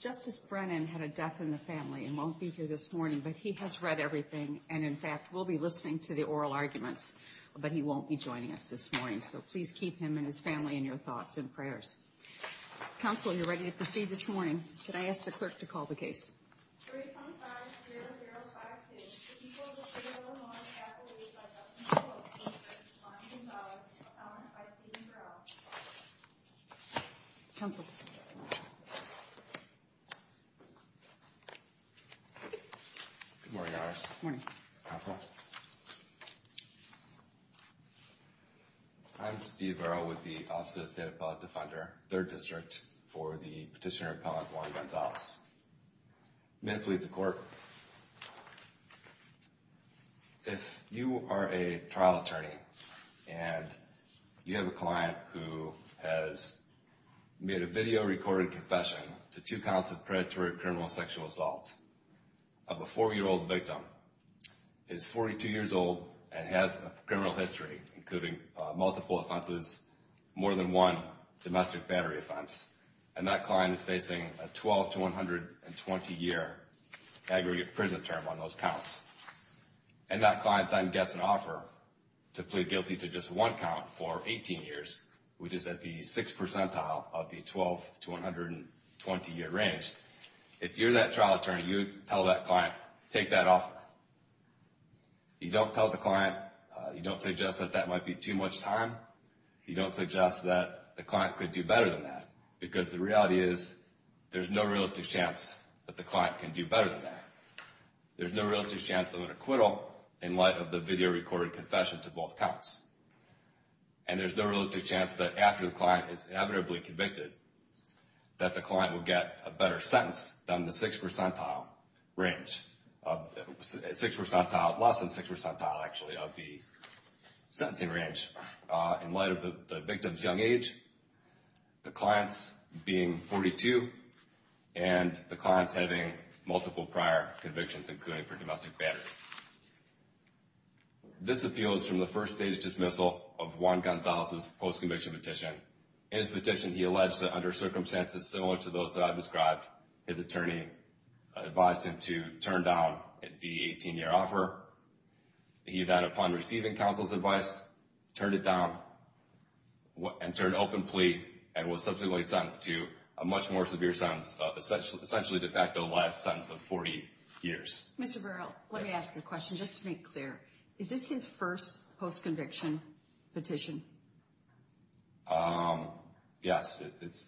Justice Brennan had a death in the family and won't be here this morning, but he has read everything and in fact We'll be listening to the oral arguments, but he won't be joining us this morning. So please keep him and his family in your thoughts and prayers Counselor you're ready to proceed this morning. Can I ask the clerk to call the case? I'm Steve Rowe with the Office of the State Appellate Defender, 3rd District for the Petitioner Appellant, Warren Gonzalez. May it please the court, if you are a trial attorney and you have a client who has made a video recorded confession to two counts of predatory criminal sexual assault of a four-year-old victim, is 42 years old and has a criminal history including multiple offenses, more than one domestic battery offense, and that client is facing a 12 to 120-year aggregate prison term on those counts. And that client then gets an offer to plead guilty to just one count for 18 years, which is at the 6th percentile of the 12 to 120-year range. If you're that trial attorney, you tell that client, take that offer. You don't tell the client, you don't suggest that that might be too much time. You don't suggest that the client could do better than that, because the reality is there's no realistic chance that the client can do better than that. There's no realistic chance of an acquittal in light of the video recorded confession to both counts. And there's no realistic chance that after the client is inevitably convicted that the client will get a better sentence than the 6th percentile range, 6th percentile, less than 6th percentile actually of the sentencing range in light of the victim's young age, the client's being 42, and the client's having multiple prior convictions including for domestic battery. This appeals from the state's dismissal of Juan Gonzalez's post-conviction petition. In his petition, he alleged that under circumstances similar to those that I've described, his attorney advised him to turn down the 18-year offer. He then, upon receiving counsel's advice, turned it down and turned open plea and was subsequently sentenced to a much more severe sentence, essentially de facto life sentence of 40 years. Mr. Burrell, let me ask you a question, just to make clear. Is this his first post-conviction petition? Yes, it's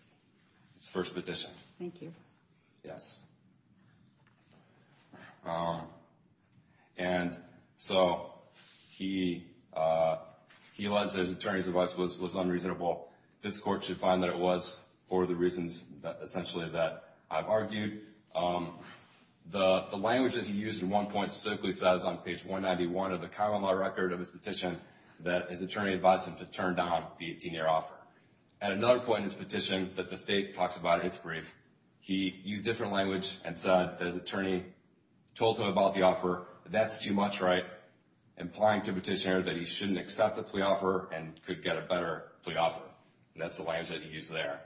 his first petition. Thank you. Yes. And so he alleged that his attorney's advice was unreasonable. This court should find that it was for the reasons essentially that I've argued. The language that he used at one point specifically says on page 191 of the common law record of his petition that his attorney advised him to turn down the 18-year offer. At another point in his petition that the state talks about in its brief, he used different language and said that his attorney told him about the offer, that's too much, right, implying to the petitioner that he shouldn't accept the plea offer and could get a better plea offer. That's the language that he used there.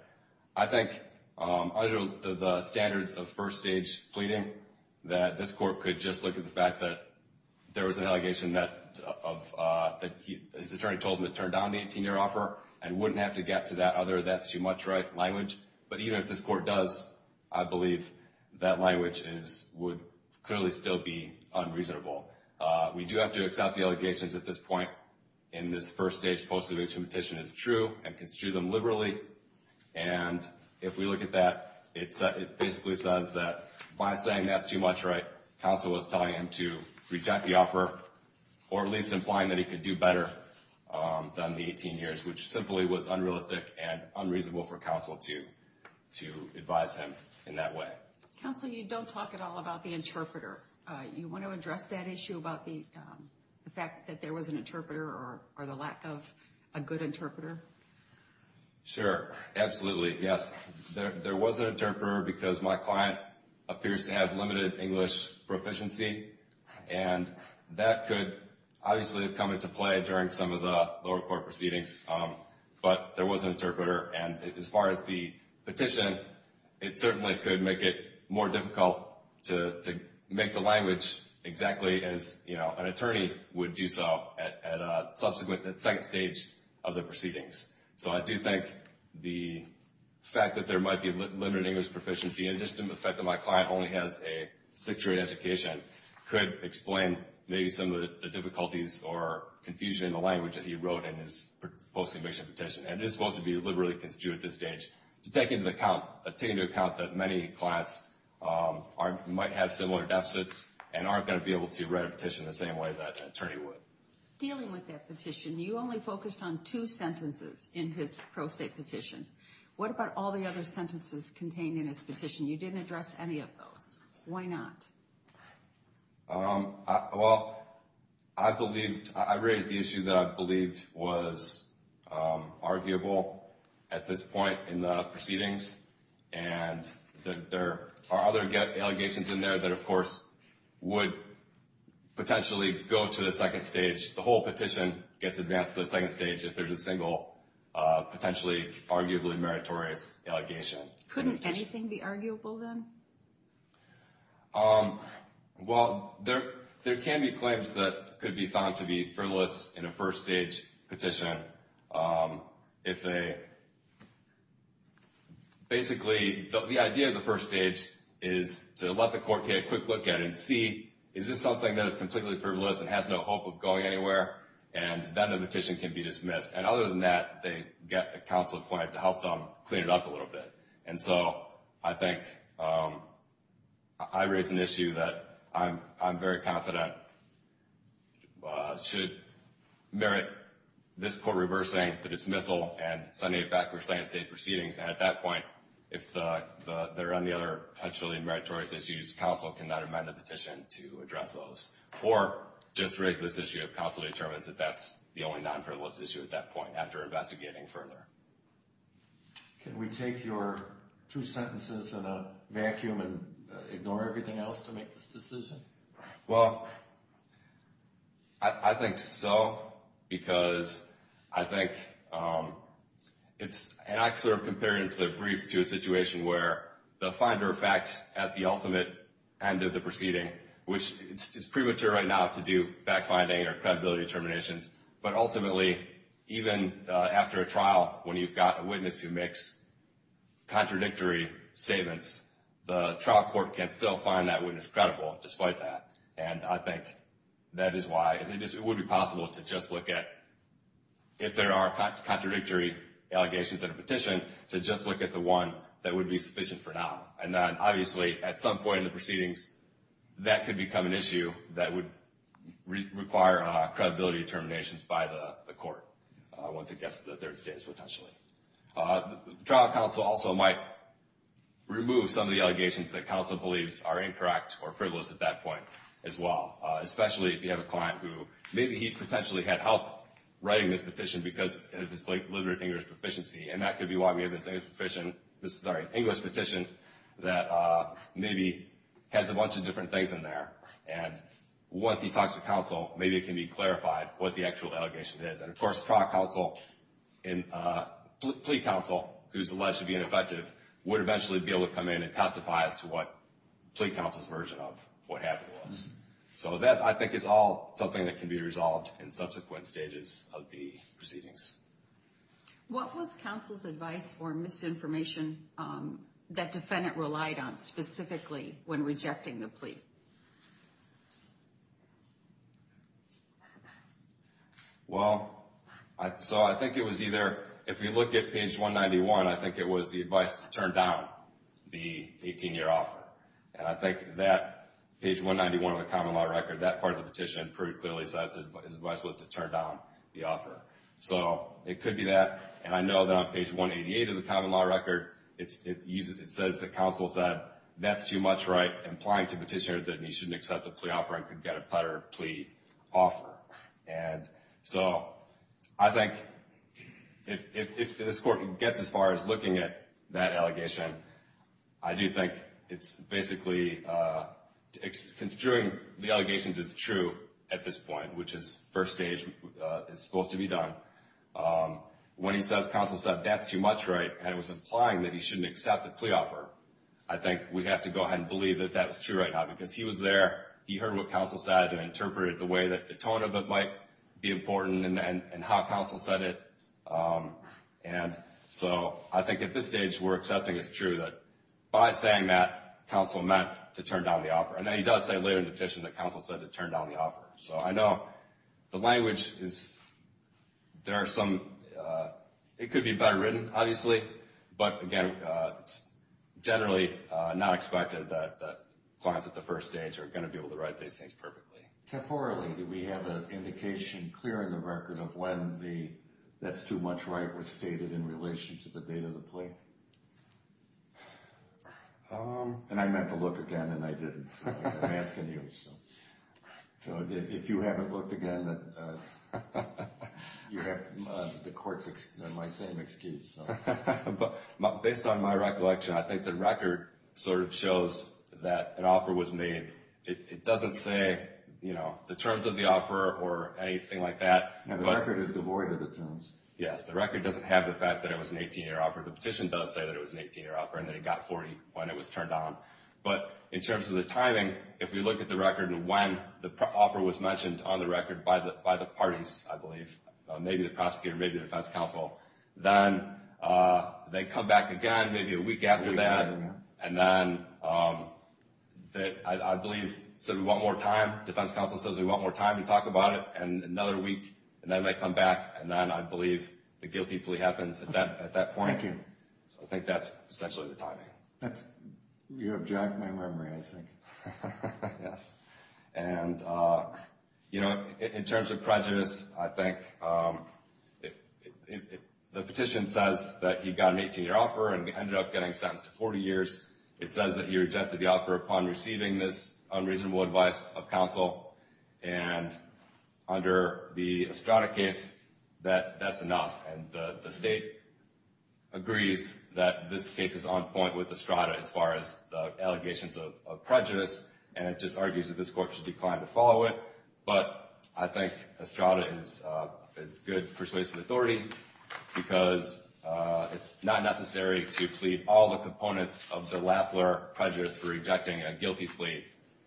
I think under the standards of first-stage pleading that this court could just look at the fact that there was an allegation that his attorney told him to turn down the 18-year offer and wouldn't have to get to that other, that's too much, right, language. But even if this court does, I believe that language would clearly still be unreasonable. We do have to accept the allegations at this point in this first-stage post-conviction petition is true and construed them liberally. And if we look at that, it basically says that by saying that's too much, right, counsel was telling him to reject the offer or at least implying that he could do better than the 18 years, which simply was unrealistic and unreasonable for counsel to advise him in that way. Counsel, you don't talk at all about the interpreter. You want to address that issue about the fact that there was an interpreter or the lack of a good interpreter. Sure. Absolutely. Yes. There was an interpreter because my client appears to have limited English proficiency and that could obviously come into play during some of the lower court proceedings. But there was an interpreter. And as far as the petition, it certainly could make it more difficult to make the language exactly as, you know, an attorney would do so at a subsequent second stage of the proceedings. So I do think the fact that there might be limited English proficiency and just the fact that my client only has a sixth-grade education could explain maybe some of the difficulties or confusion in the language that he wrote in his post-conviction petition. And it's supposed to be liberally construed at this stage to take into account that many clients might have similar deficits and aren't going to be able to write a petition the same way that an attorney would. Dealing with that petition, you only focused on two sentences in his pro se petition. What about all the other claims that are just arguable at this point in the proceedings? And there are other allegations in there that, of course, would potentially go to the second stage. The whole petition gets advanced to the second stage if there's a single potentially arguably meritorious allegation. Couldn't anything be arguable then? Well, there can be claims that could be found to be frivolous in a first-stage petition. Basically, the idea of the first stage is to let the court take a quick look at it and see, is this something that is completely frivolous and has no hope of going anywhere? And then the petition can be dismissed. And other than that, they get a counsel appointed to help them clean it up a little bit. And so I think I raise an issue that I'm very confident should merit this court reversing the dismissal and sending it back to the second stage proceedings. And at that point, if there are any other potentially meritorious issues, counsel cannot amend the petition to address those. Or just raise this issue if counsel determines that that's the only non-frivolous issue at that point after investigating further. Can we take your two sentences in a vacuum and ignore everything else to make this decision? Well, I think so, because I think it's, and I've sort of compared it in briefs to a situation where the finder of fact at the ultimate end of the proceeding, which is premature right now to do fact-finding or credibility determinations, but ultimately, even after a trial, when you've got a witness who makes contradictory statements, the trial court can still find that witness credible despite that. And I think that is why it would be possible to just look at, if there are contradictory allegations in a petition, to just look at the one that would be sufficient for now. And then, obviously, at some point in the proceedings, that could become an issue that would require credibility determinations by the court, once it gets to the third stage, which I'm not sure about. The trial counsel also might remove some of the allegations that counsel believes are incorrect or frivolous at that point, as well, especially if you have a client who, maybe he potentially had help writing this petition because of his, like, literate English proficiency, and that could be why we have this English petition that maybe has a bunch of different things in there, and once he talks to counsel, maybe it can be clarified what the actual allegation is. And, of course, trial counsel and plea counsel, who's alleged to be ineffective, would eventually be able to come in and testify as to what plea counsel's version of what happened was. So that, I think, is all something that can be resolved in subsequent stages of the proceedings. What was counsel's advice for misinformation that defendant relied on, specifically, when rejecting the plea? Well, so I think it was either, if you look at page 191, I think it was the advice to turn down the 18-year offer. And I think that page 191 of the common law record, that part of the petition pretty clearly says his advice was to turn down the offer. So it could be that. And I know that on page 188 of the common law record, it says that counsel said, that's too much, right, implying to petitioner that he shouldn't accept the plea offer and could get a better plea offer. And so I think if this Court gets as far as looking at that allegation, I do think it's basically construing the allegations as true at this point, which is first stage, it's supposed to be done. When he says, counsel said, that's too much, right, and it was implying that he shouldn't accept the plea offer, I think we have to go ahead and believe that that was true right now. Because he was there, he heard what counsel said and interpreted the way that the tone of it might be important and how counsel said it. And so I think at this stage, we're accepting it's true that by saying that, counsel meant to turn down the offer. And then he does say later in the petition that counsel said to turn down the offer. So I know the language is, there are some, it could be better written, obviously, but again, it's generally not expected that clients at the first stage are going to be able to write these things perfectly. Temporally, do we have an indication, clear in the record, of when the, that's too much, right, was stated in relation to the date of the plea? And I meant to look again and I didn't. I'm asking you. So if you haven't looked again, you have the Court's, my same excuse. Based on my recollection, I think the record sort of shows that an offer was made. It doesn't say, you know, the terms of the offer or anything like that. The record is devoid of the terms. Yes, the record doesn't have the fact that it was an 18-year offer. The petition does say that it was an 18-year offer and that it got 40 when it was turned down. But in terms of the timing, if we look at the record and when the offer was mentioned on the record by the parties, I believe, maybe the prosecutor, maybe the defense counsel, then they come back again, maybe a week after that. And then, I believe, said we want more time, defense counsel says we want more time to talk about it, and another week, and then they come back, and then I believe the guilty plea happens at that point. Thank you. So I think that's essentially the timing. You have jacked my memory, I think. And, you know, in terms of prejudice, I think the petition says that he got an 18-year offer and ended up getting sentenced to 40 years. It says that he rejected the offer upon receiving this unreasonable advice of counsel, and under the Estrada case, that's enough. And the state agrees that this case is on point with Estrada as far as the allegations of prejudice, and it just argues that this court should decline to follow it. But I think Estrada is good persuasive authority because it's not necessary to plead all the components of the Lafleur prejudice for rejecting a guilty plea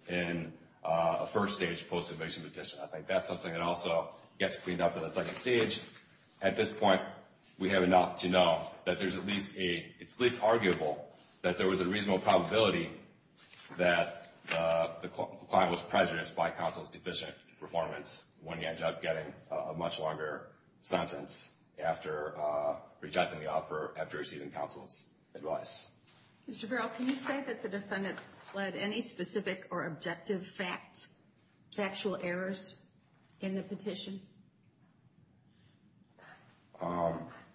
in a first-stage post-invasion petition. I think that's something that also gets cleaned up in the second stage. At this point, we have enough to know that there's at least a — it's at least arguable that there was a reasonable probability that the client was prejudiced by counsel's deficient performance when he ended up getting a much longer sentence after rejecting the offer after receiving counsel's advice. Mr. Farrell, can you say that the defendant led any specific or objective factual errors in the petition?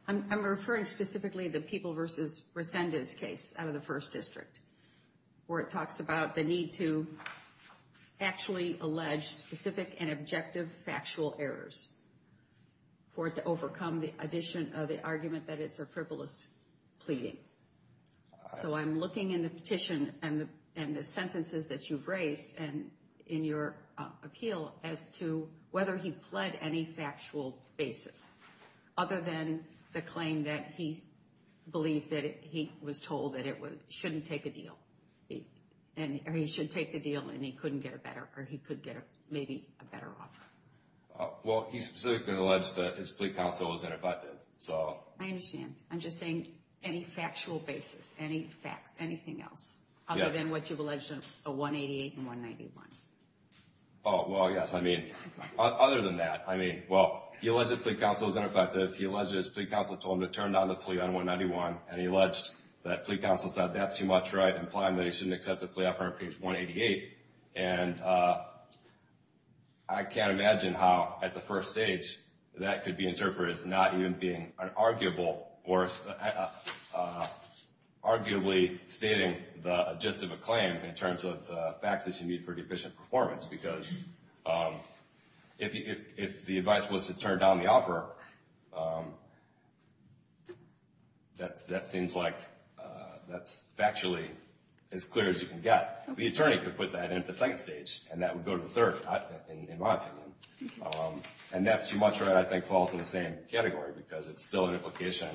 I'm referring specifically to the People v. Resendez case out of the First District, where it talks about the need to actually allege specific and objective factual errors for it to overcome the addition of the argument that it's a frivolous pleading. So I'm looking in the petition and the sentences that you've raised and in your appeal as to whether he pled any factual basis, other than the claim that he believes that he was told that it was — shouldn't take a deal. And he should take the deal, and he couldn't get a better — or he could get maybe a better offer. Well, he specifically alleged that his plea counsel was ineffective, so — I understand. I'm just saying any factual basis, any facts, anything else, other than what you've alleged in 188 and 191. Oh, well, yes. I mean, other than that, I mean, well, he alleged that plea counsel was ineffective. He alleged that his plea counsel told him to turn down the plea on 191, and he alleged that plea counsel said, that's too much, right, implying that he shouldn't accept the plea offer on page 188. And I can't imagine how, at the first stage, that could be interpreted as not even being an arguable — or arguably stating the gist of a claim in terms of facts that you need for deficient performance. Because if the advice was to turn down the offer, that seems like that's factually as clear as you can get. The attorney could put that in at the second stage, and that would go to the third, in my opinion. And that's too much, right, I think falls in the same category, because it's still an implication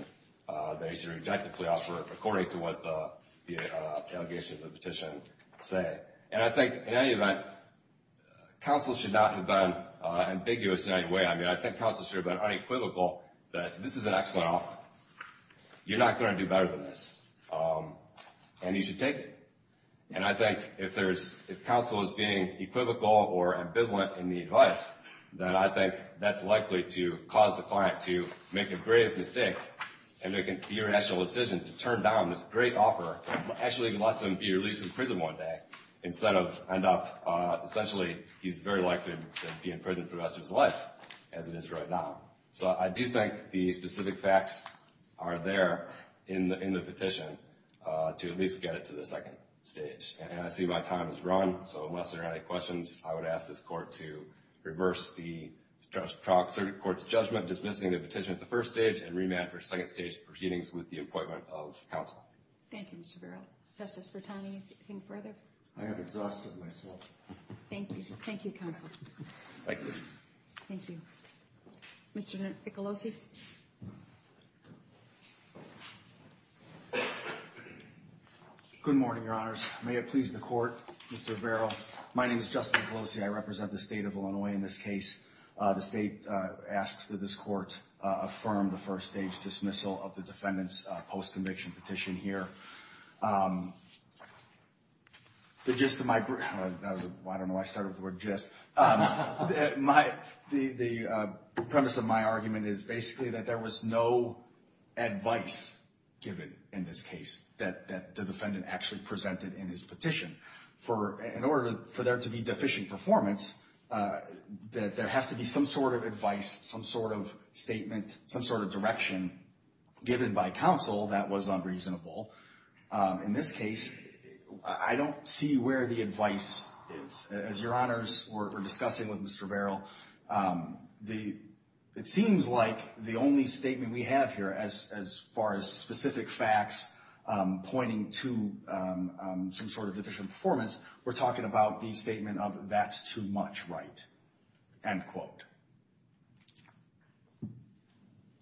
that he should reject the plea offer according to what the allegations of the petition say. And I think, in any event, counsel should not have been ambiguous in any way. I mean, I think counsel should have been unequivocal that this is an excellent offer. You're not going to do better than this, and you should take it. And I think if counsel is being equivocal or ambivalent in the advice, then I think that's likely to cause the client to make a grave mistake and make an irrational decision to turn down this great offer that actually lets him be released from prison one day instead of end up — essentially, he's very likely to be in prison for the rest of his life, as it is right now. So I do think the specific facts are there in the petition to at least get it to the second stage. And I see my time has run, so unless there are any questions, I would ask this Court to reverse the court's judgment, end up dismissing the petition at the first stage, and remand for second stage proceedings with the appointment of counsel. Thank you, Mr. Verrill. Justice Bertani, anything further? I have exhausted myself. Thank you. Thank you, counsel. Thank you. Thank you. Mr. Niccolosi? Good morning, Your Honors. May it please the Court, Mr. Verrill. My name is Justin Niccolosi. I represent the state of Illinois in this case. The state asks that this Court affirm the first-stage dismissal of the defendant's post-conviction petition here. The gist of my — I don't know why I started with the word gist. The premise of my argument is basically that there was no advice given in this case that the defendant actually presented in his petition. In order for there to be deficient performance, that there has to be some sort of advice, some sort of statement, some sort of direction given by counsel that was unreasonable. In this case, I don't see where the advice is. As Your Honors were discussing with Mr. Verrill, it seems like the only statement we have here, as far as specific facts pointing to some sort of deficient performance, we're talking about the statement of that's too much right, end quote.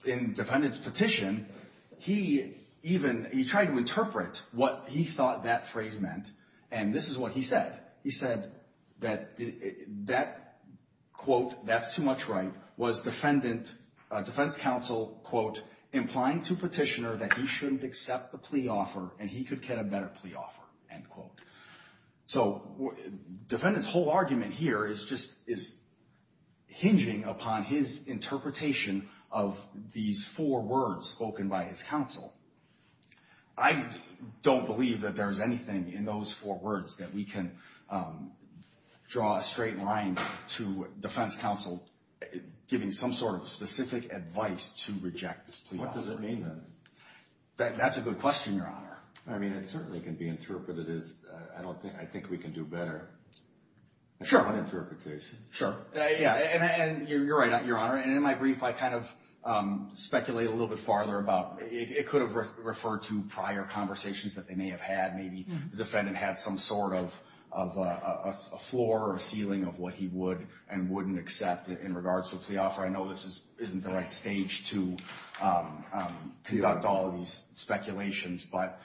In the defendant's petition, he even — he tried to interpret what he thought that phrase meant, and this is what he said. He said that that quote, that's too much right, was defendant's counsel, quote, implying to petitioner that he shouldn't accept the plea offer and he could get a better plea offer, end quote. So defendant's whole argument here is just — is hinging upon his interpretation of these four words spoken by his counsel. I don't believe that there's anything in those four words that we can draw a straight line to defense counsel giving some sort of specific advice to reject this plea offer. What does it mean, then? That's a good question, Your Honor. I mean, it certainly can be interpreted as I don't think — I think we can do better. Sure. On interpretation. Sure. Yeah, and you're right, Your Honor. And in my brief, I kind of speculate a little bit farther about it could have referred to prior conversations that they may have had. Maybe the defendant had some sort of a floor or a ceiling of what he would and wouldn't accept in regards to a plea offer. I know this isn't the right stage to conduct all of these speculations, but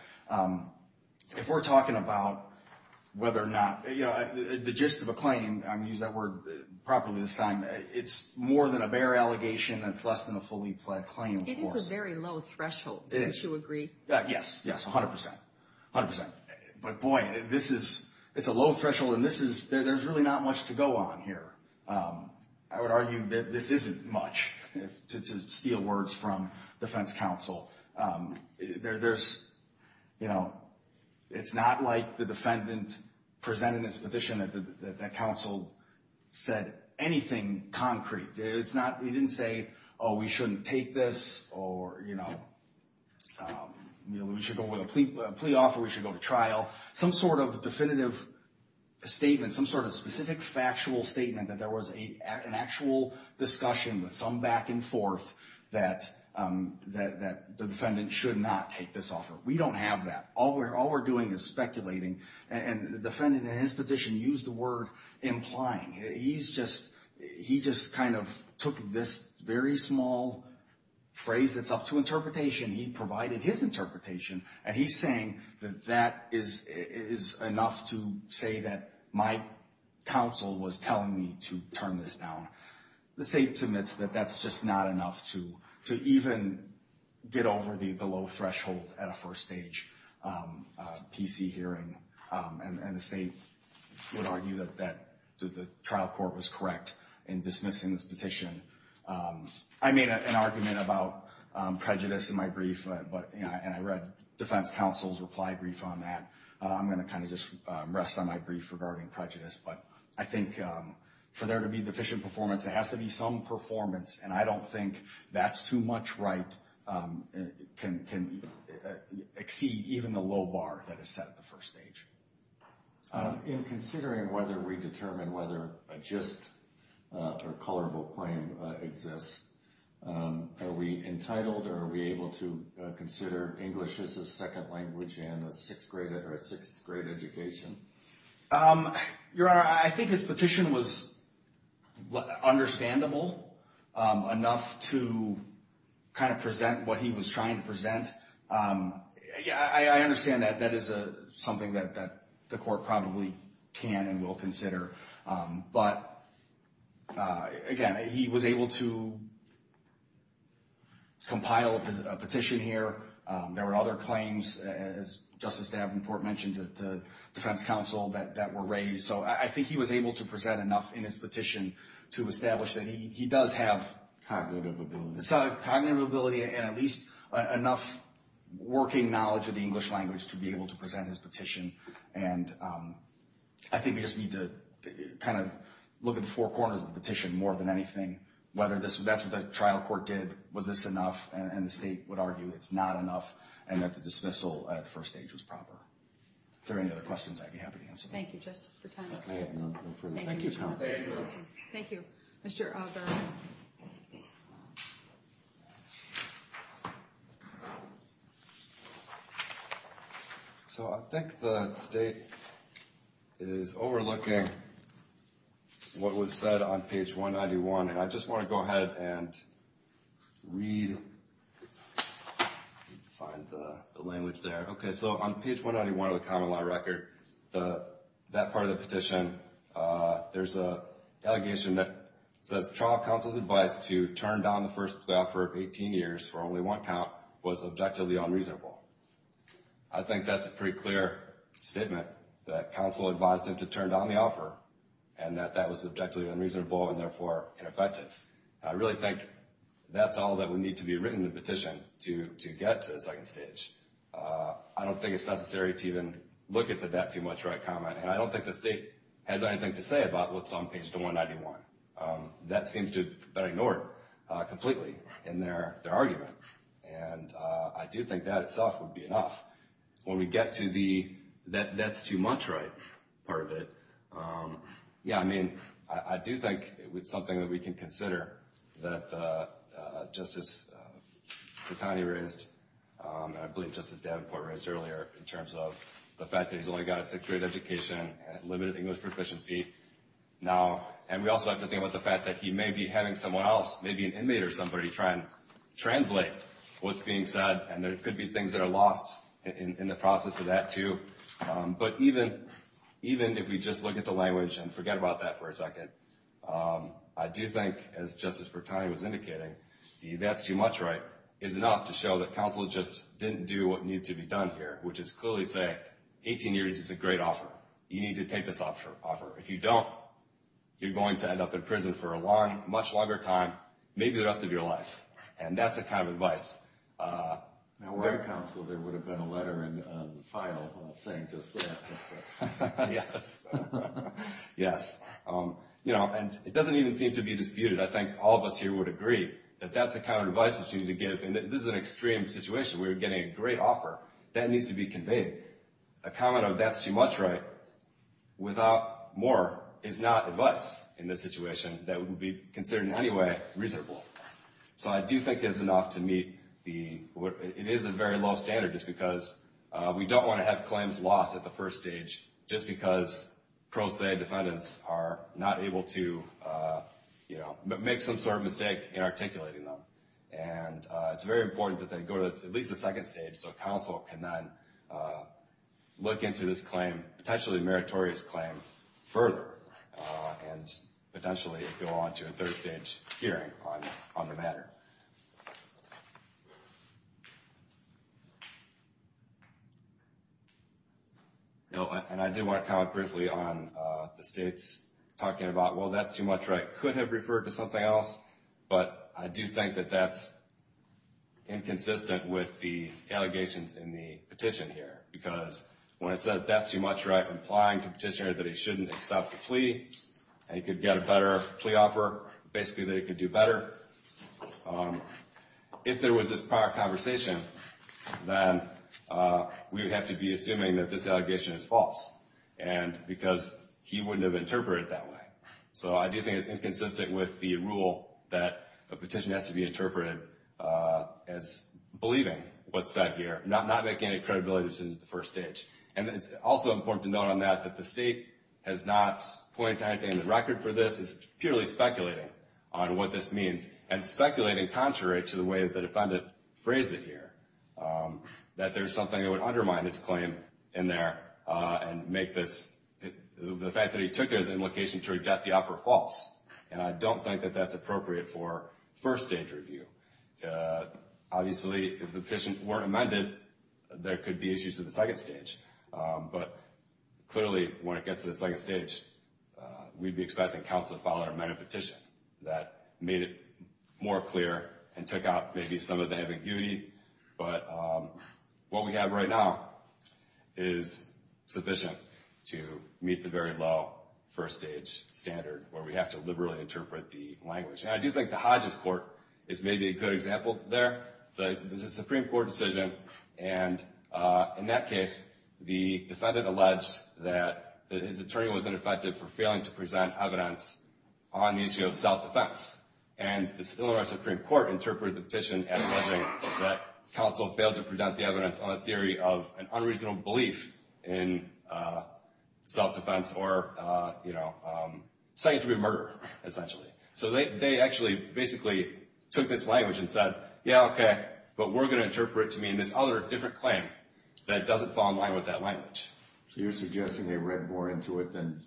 if we're talking about whether or not — you know, the gist of a claim, I'm going to use that word properly this time, it's more than a bare allegation. It's less than a fully pled claim, of course. It is a very low threshold, don't you agree? Yes, yes, 100 percent, 100 percent. But, boy, this is — it's a low threshold, and this is — there's really not much to go on here. I would argue that this isn't much, to steal words from defense counsel. There's — you know, it's not like the defendant presented his position that counsel said anything concrete. It's not — he didn't say, oh, we shouldn't take this, or, you know, we should go with a plea offer, we should go to trial. Some sort of definitive statement, some sort of specific factual statement that there was an actual discussion with some back and forth that the defendant should not take this offer. We don't have that. All we're doing is speculating, and the defendant in his position used the word implying. He's just — he just kind of took this very small phrase that's up to interpretation, he provided his interpretation, and he's saying that that is enough to say that my counsel was telling me to turn this down. The state admits that that's just not enough to even get over the low threshold at a first stage PC hearing, and the state would argue that the trial court was correct in dismissing this petition. I made an argument about prejudice in my brief, and I read defense counsel's reply brief on that. I'm going to kind of just rest on my brief regarding prejudice. But I think for there to be deficient performance, there has to be some performance, and I don't think that's too much right can exceed even the low bar that is set at the first stage. In considering whether we determine whether a just or colorable claim exists, are we entitled or are we able to consider English as a second language in a sixth grade education? Your Honor, I think his petition was understandable enough to kind of present what he was trying to present. I understand that that is something that the court probably can and will consider. But again, he was able to compile a petition here. There were other claims, as Justice Davenport mentioned, to defense counsel that were raised. So I think he was able to present enough in his petition to establish that he does have… Cognitive ability. Cognitive ability and at least enough working knowledge of the English language to be able to present his petition. And I think we just need to kind of look at the four corners of the petition more than anything, whether that's what the trial court did, was this enough, and the state would argue it's not enough, and that the dismissal at the first stage was proper. If there are any other questions, I'd be happy to answer them. Thank you, Justice Frateno. Thank you, counsel. Thank you. Thank you, Mr. O'Byrne. Thank you. So I think the state is overlooking what was said on page 191. And I just want to go ahead and read…find the language there. Okay, so on page 191 of the common law record, that part of the petition, there's an allegation that says trial counsel's advice to turn down the first offer of 18 years for only one count was objectively unreasonable. I think that's a pretty clear statement, that counsel advised him to turn down the offer and that that was objectively unreasonable and therefore ineffective. I really think that's all that would need to be written in the petition to get to the second stage. I don't think it's necessary to even look at the that too much right comment. And I don't think the state has anything to say about what's on page 191. That seems to have been ignored completely in their argument. And I do think that itself would be enough. When we get to the that's too much right part of it, yeah, I mean, I do think it's something that we can consider that Justice Fratani raised, and I believe Justice Davenport raised earlier, in terms of the fact that he's only got a sixth grade education, limited English proficiency. And we also have to think about the fact that he may be having someone else, maybe an inmate or somebody, try and translate what's being said, and there could be things that are lost in the process of that too. But even if we just look at the language and forget about that for a second, I do think, as Justice Fratani was indicating, the that's too much right is enough to show that what needs to be done here, which is clearly say 18 years is a great offer. You need to take this offer. If you don't, you're going to end up in prison for a much longer time, maybe the rest of your life. And that's the kind of advice. Now, were there counsel, there would have been a letter in the file saying just that. Yes. Yes. You know, and it doesn't even seem to be disputed. I think all of us here would agree that that's the kind of advice that you need to give. And this is an extreme situation. We were getting a great offer. That needs to be conveyed. A comment of that's too much right without more is not advice in this situation that would be considered in any way reasonable. So I do think it is enough to meet the, it is a very low standard just because we don't want to have claims lost at the first stage just because pro se defendants are not able to, you know, make some sort of mistake in articulating them. And it's very important that they go to at least the second stage so counsel can then look into this claim, potentially meritorious claim, further and potentially go on to a third stage hearing on the matter. And I do want to comment briefly on the states talking about, well, that's too much right could have referred to something else. But I do think that that's inconsistent with the allegations in the petition here. Because when it says that's too much right, implying to petitioner that he shouldn't accept the plea, he could get a better plea offer, basically that he could do better. If there was this prior conversation, then we would have to be assuming that this allegation is false. And because he wouldn't have interpreted it that way. So I do think it's inconsistent with the rule that the petition has to be interpreted as believing what's said here, not making any credibility decisions at the first stage. And it's also important to note on that that the state has not pointed to anything in the record for this. It's purely speculating on what this means and speculating contrary to the way that the defendant phrased it here, that there's something that would undermine this claim in there and make this, the fact that he took it as an implication to reject the offer false. And I don't think that that's appropriate for first stage review. Obviously, if the petition weren't amended, there could be issues in the second stage. But clearly, when it gets to the second stage, we'd be expecting counsel to file an amended petition that made it more clear and took out maybe some of the ambiguity. But what we have right now is sufficient to meet the very low first stage standard where we have to liberally interpret the language. And I do think the Hodges Court is maybe a good example there. There's a Supreme Court decision. And in that case, the defendant alleged that his attorney was ineffective for failing to present evidence on the issue of self-defense. And the Illinois Supreme Court interpreted the petition as alleging that counsel failed to present the evidence on a theory of an unreasonable belief in self-defense or, you know, citing it to be a murder, essentially. So they actually basically took this language and said, yeah, okay, but we're going to interpret it to mean this other different claim that doesn't fall in line with that language. So you're suggesting they read more into it than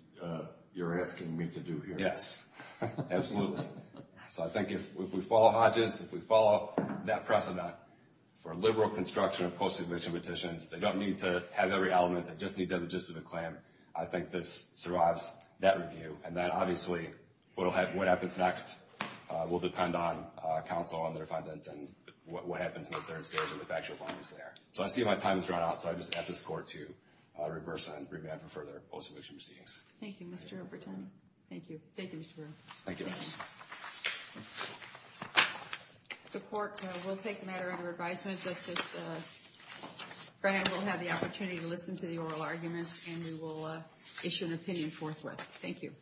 you're asking me to do here? Yes, absolutely. So I think if we follow Hodges, if we follow that precedent for liberal construction of post-admission petitions, they don't need to have every element. They just need to have the gist of the claim. I think this survives that review. And then, obviously, what happens next will depend on counsel and their defendant and what happens in the third stage and the factual findings there. So I see my time has run out, so I just ask this Court to reverse and revamp for further post-admission proceedings. Thank you, Mr. Bertoni. Thank you. Thank you, Mr. Brewer. Thank you. The Court will take the matter under advisement. Justice Graham will have the opportunity to listen to the oral arguments, and we will issue an opinion forthwith. Thank you.